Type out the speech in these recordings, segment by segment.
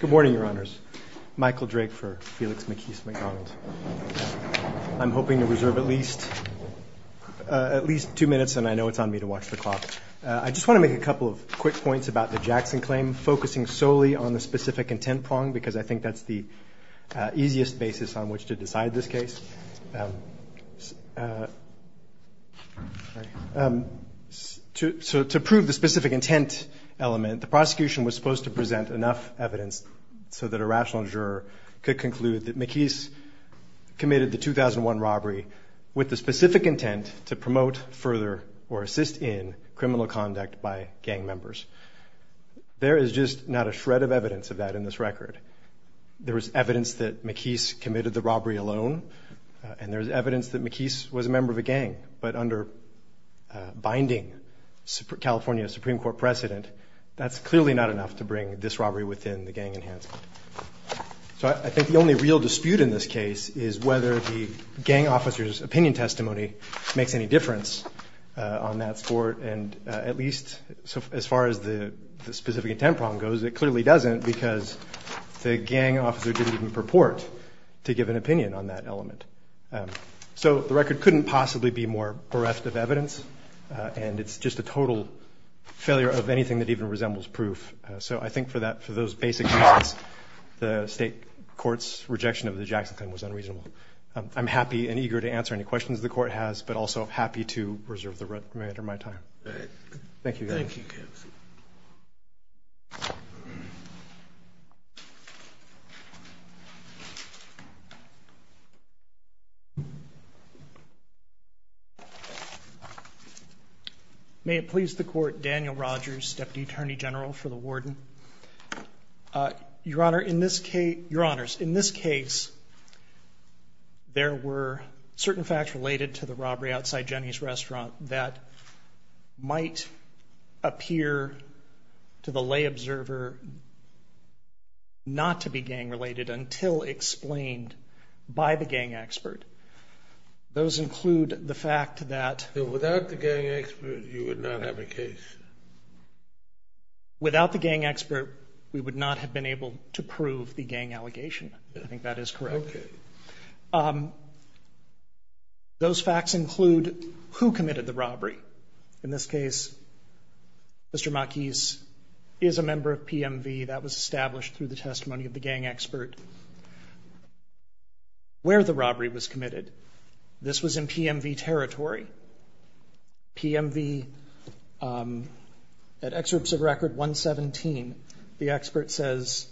Good morning, Your Honors. Michael Drake for Felix McKeese MacDonald. I'm hoping to reserve at least two minutes, and I know it's on me to watch the clock. I just want to make a couple of quick points about the Jackson claim, focusing solely on the specific intent prong, because I think that's the easiest basis on which to decide this case. To prove the specific intent element, the prosecution was supposed to present enough evidence so that a rational juror could conclude that McKeese committed the 2001 robbery with the specific intent to promote further or assist in criminal conduct by gang members. There is just not a shred of evidence of that in this record. There is evidence that McKeese committed the robbery alone, and there is evidence that McKeese was a member of a gang. But under binding California Supreme Court precedent, that's clearly not enough to bring this robbery within the gang enhancement. So I think the only real dispute in this case is whether the gang officer's opinion testimony makes any difference on that sport, and at least as far as the specific intent prong goes, it clearly doesn't, because the gang officer didn't even purport to give an opinion on that element. So the record couldn't possibly be more bereft of evidence, and it's just a total failure of anything that even resembles proof. So I think for those basic facts, the State Court's rejection of the Jackson claim was unreasonable. I'm happy and eager to answer any questions the Court has, but also happy to reserve the remainder of my time. Thank you. May it please the Court, Daniel Rogers, Deputy Attorney General for the Warden. Your Honors, in this case, there were certain facts related to the robbery outside Jenny's Restaurant that might appear to the lay observer not to be gang-related until explained by the gang expert. Those include the fact that- Without the gang expert, you would not have a case. Without the gang expert, we would not have been able to prove the gang allegation. I think that is correct. Okay. Those facts include who committed the robbery. In this case, Mr. Mockies is a member of PMV. That was established through the testimony of the gang expert where the robbery was committed. This was in PMV territory. PMV, at Excerpts of Record 117, the expert says,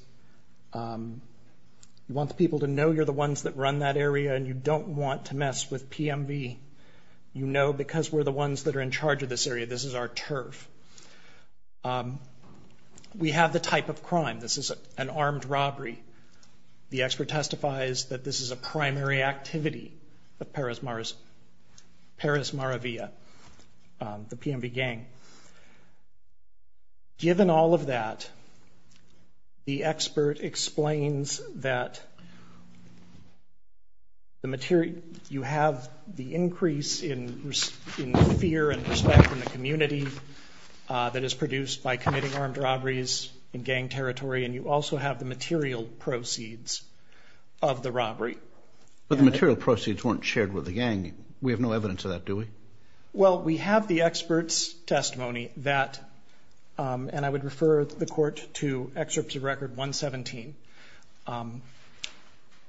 you want the people to know you're the ones that run that area and you don't want to mess with PMV. You know because we're the ones that are in charge of this area, this is our turf. We have the type of crime. This is an armed robbery. The expert testifies that this is a primary activity of Paris Maravilla, the PMV gang. Given all of that, the expert explains that you have the increase in fear and respect in the community that is produced by committing armed robberies in gang territory, and you also have the material proceeds of the robbery. But the material proceeds weren't shared with the gang. We have no evidence of that, do we? Well, we have the expert's testimony that, and I would refer the court to Excerpts of Record 117.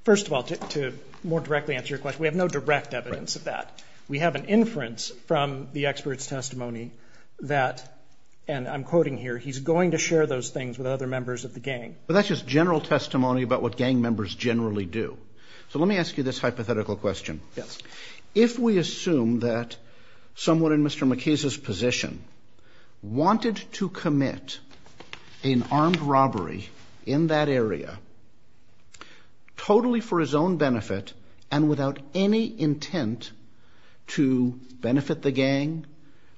First of all, to more directly answer your question, we have no direct evidence of that. We have an inference from the expert's testimony that, and I'm quoting here, he's going to share those things with other members of the gang. But that's just general testimony about what gang members generally do. So let me ask you this hypothetical question. Yes. If we assume that someone in Mr. McKee's position wanted to commit an armed robbery in that area, totally for his own benefit and without any intent to benefit the gang,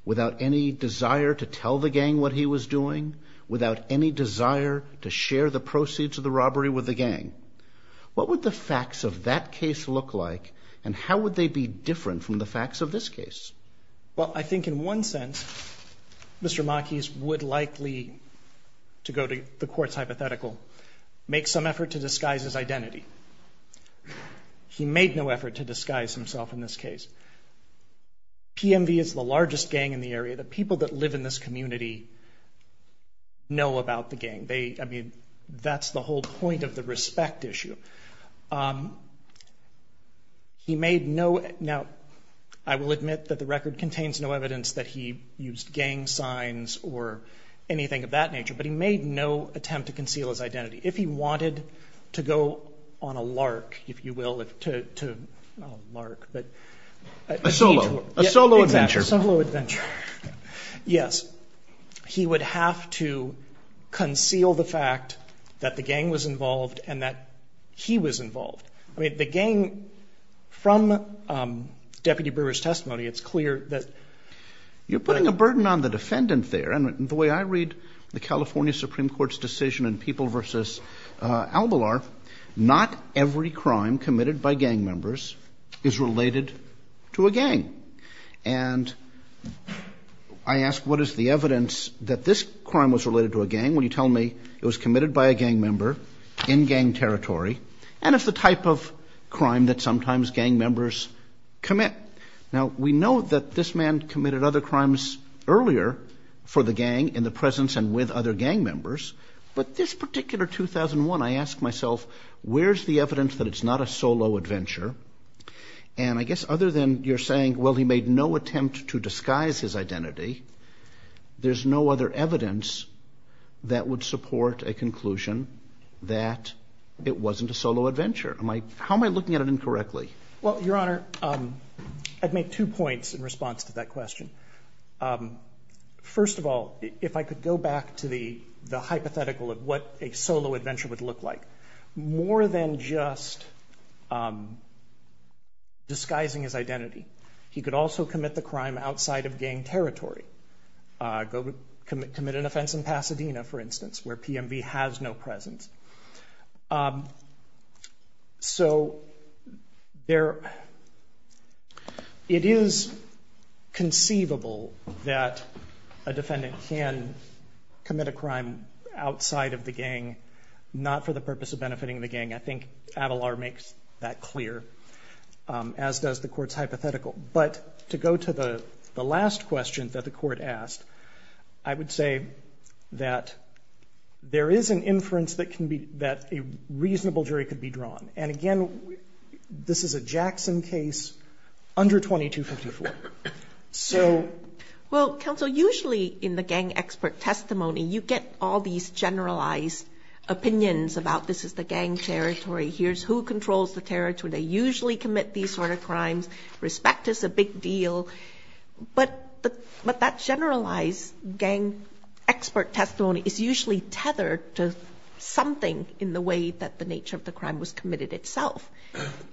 without any desire to tell the gang what he was doing, without any desire to share the proceeds of the robbery with the gang, what would the facts of that case look like, and how would they be different from the facts of this case? Well, I think in one sense, Mr. McKee would likely, to go to the court's hypothetical, make some effort to disguise his identity. He made no effort to disguise himself in this case. PMV is the largest gang in the area. The people that live in this community know about the gang. They, I mean, that's the whole point of the respect issue. He made no, now, I will admit that the record contains no evidence that he used gang signs or anything of that nature, but he made no attempt to conceal his identity. If he wanted to go on a lark, if you will, to, not a lark, but. A solo, a solo adventure. Exactly, a solo adventure. Yes. He would have to conceal the fact that the gang was involved and that he was involved. I mean, the gang, from Deputy Brewer's testimony, it's clear that. You're putting a burden on the defendant there. And the way I read the California Supreme Court's decision in People v. Albalar, not every crime committed by gang members is related to a gang. And I ask what is the evidence that this crime was related to a gang when you tell me it was committed by a gang member in gang territory and it's the type of crime that sometimes gang members commit. Now, we know that this man committed other crimes earlier for the gang in the presence and with other gang members, but this particular 2001, I ask myself, where's the evidence that it's not a solo adventure? And I guess other than you're saying, well, he made no attempt to disguise his identity, there's no other evidence that would support a conclusion that it wasn't a solo adventure. How am I looking at it incorrectly? Well, Your Honor, I'd make two points in response to that question. First of all, if I could go back to the hypothetical of what a solo adventure would look like. More than just disguising his identity, he could also commit the crime outside of gang territory. Go commit an offense in Pasadena, for instance, where PMV has no presence. So it is conceivable that a defendant can commit a crime outside of the gang, not for the purpose of benefiting the gang. I think Avalar makes that clear, as does the Court's hypothetical. But to go to the last question that the Court asked, I would say that there is an inference that a reasonable jury could be drawn. And again, this is a Jackson case under 2254. So ‑‑ Well, counsel, usually in the gang expert testimony, you get all these generalized opinions about this is the gang territory. Here's who controls the territory. That's where they usually commit these sort of crimes. Respect is a big deal. But that generalized gang expert testimony is usually tethered to something in the way that the nature of the crime was committed itself.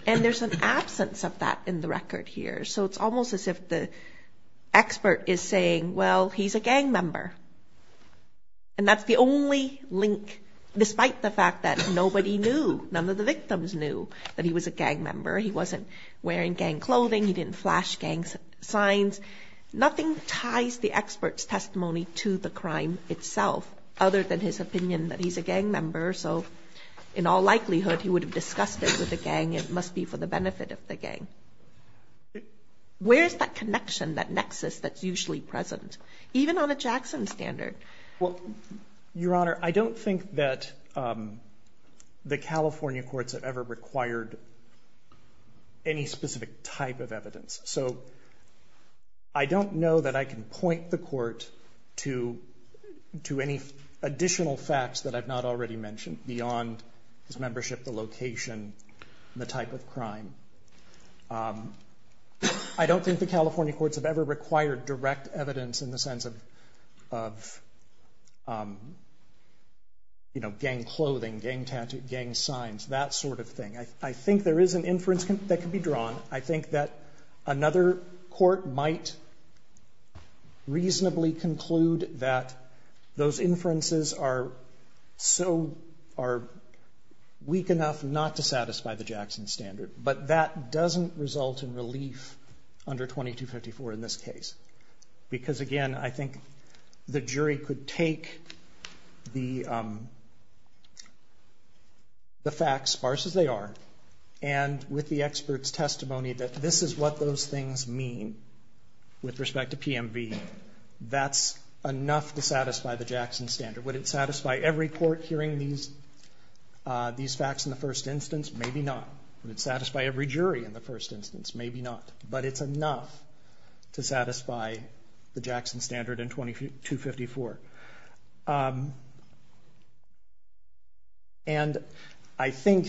And there's an absence of that in the record here. So it's almost as if the expert is saying, well, he's a gang member. And that's the only link, despite the fact that nobody knew, none of the victims knew that he was a gang member. He wasn't wearing gang clothing. He didn't flash gang signs. Nothing ties the expert's testimony to the crime itself, other than his opinion that he's a gang member. So in all likelihood, he would have discussed it with the gang. It must be for the benefit of the gang. Where is that connection, that nexus that's usually present? Even on a Jackson standard. Well, Your Honor, I don't think that the California courts have ever required any specific type of evidence. So I don't know that I can point the court to any additional facts that I've not already mentioned beyond his membership, the location, the type of crime. I don't think the California courts have ever required direct evidence in the sense of gang clothing, gang tattoos, gang signs, that sort of thing. I think there is an inference that can be drawn. I think that another court might reasonably conclude that those inferences are weak enough not to satisfy the Jackson standard. But that doesn't result in relief under 2254 in this case. Because again, I think the jury could take the facts, sparse as they are, and with the expert's testimony that this is what those things mean with respect to PMV, that's enough to satisfy the Jackson standard. Would it satisfy every court hearing these facts in the first instance? Maybe not. Would it satisfy every jury in the first instance? Maybe not. But it's enough to satisfy the Jackson standard in 2254. And I think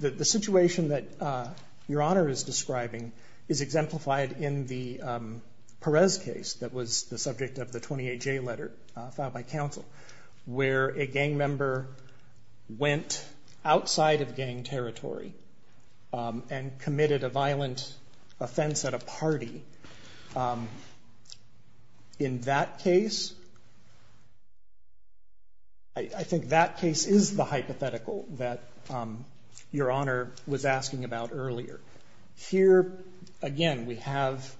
that the situation that Your Honor is describing is exemplified in the Perez case that was the subject of the 28J letter filed by counsel, where a gang member went outside of gang territory and committed a violent offense at a party. In that case, I think that case is the hypothetical that Your Honor was asking about earlier. Here, again, we have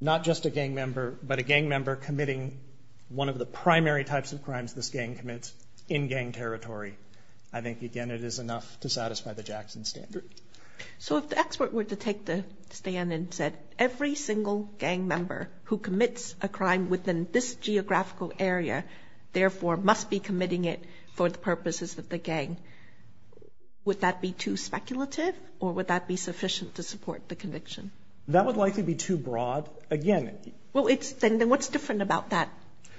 not just a gang member, but a gang member committing one of the primary types of crimes this gang commits in gang territory. I think, again, it is enough to satisfy the Jackson standard. So if the expert were to take the stand and said, every single gang member who commits a crime within this geographical area, therefore must be committing it for the purposes of the gang, would that be too speculative or would that be sufficient to support the conviction? That would likely be too broad. Again, it's... Well, then what's different about that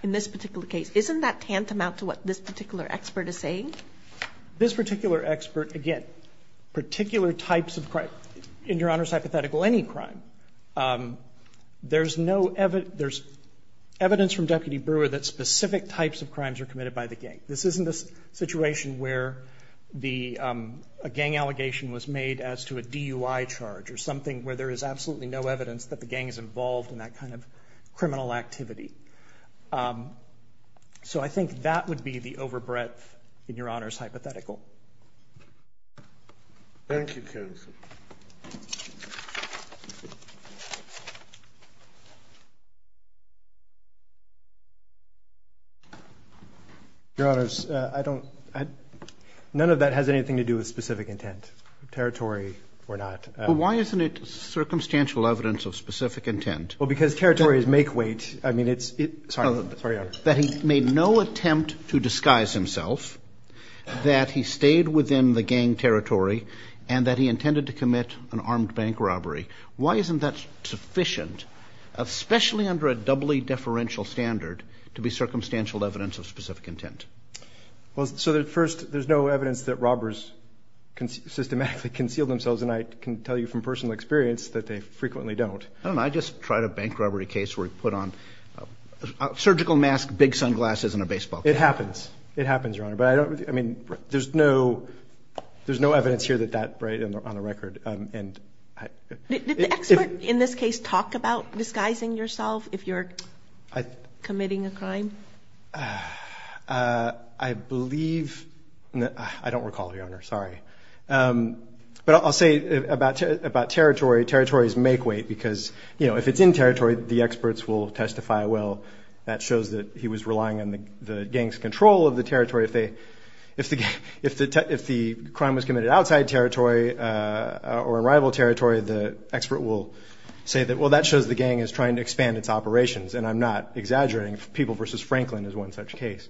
in this particular case? Isn't that tantamount to what this particular expert is saying? This particular expert, again, particular types of crime. In Your Honor's hypothetical, any crime. There's evidence from Deputy Brewer that specific types of crimes are committed by the gang. This isn't a situation where a gang allegation was made as to a DUI charge or something where there is absolutely no evidence that the gang is involved in that kind of criminal activity. So I think that would be the overbreadth in Your Honor's hypothetical. Thank you, counsel. Your Honors, I don't... None of that has anything to do with specific intent, territory or not. Well, why isn't it circumstantial evidence of specific intent? Well, because territories make weight. I mean, it's... Sorry, Your Honor. That he made no attempt to disguise himself, that he stayed within the gang territory and that he intended to commit an armed bank robbery. Why isn't that sufficient, especially under a doubly deferential standard, to be circumstantial evidence of specific intent? Well, so first, there's no evidence that robbers systematically conceal themselves, and I can tell you from personal experience that they frequently don't. I don't know. I just tried a bank robbery case where he put on a surgical mask, big sunglasses, and a baseball cap. It happens. It happens, Your Honor. But I don't... I mean, there's no evidence here that that, right, on the record. Did the expert in this case talk about disguising yourself if you're committing a crime? I believe... I don't recall, Your Honor. Sorry. But I'll say about territory, territories make weight because, you know, if it's in territory, the experts will testify, well, that shows that he was relying on the gang's control of the territory. If the crime was committed outside territory or in rival territory, the expert will say that, well, that shows the gang is trying to expand its operations, and I'm not exaggerating. People v. Franklin is one such case.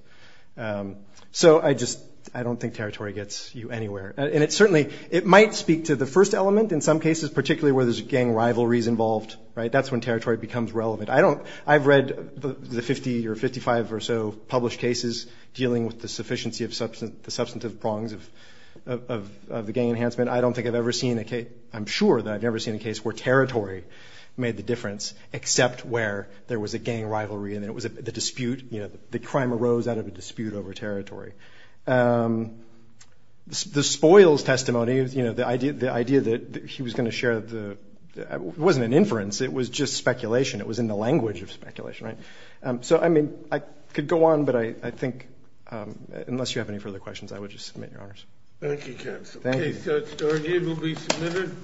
So I just... I don't think territory gets you anywhere. And it certainly... It might speak to the first element in some cases, particularly where there's gang rivalries involved. That's when territory becomes relevant. I don't... I've read the 50 or 55 or so published cases dealing with the sufficiency of the substantive prongs of the gang enhancement. I don't think I've ever seen a case... I'm sure that I've never seen a case where territory made the difference except where there was a gang rivalry and it was the dispute, you know, the crime arose out of a dispute over territory. The spoils testimony, you know, the idea that he was going to share the... It wasn't an inference. It was just speculation. It was in the language of speculation, right? So, I mean, I could go on, but I think, unless you have any further questions, I would just submit your honors. Thank you, counsel. Thank you. The case that's argued will be submitted.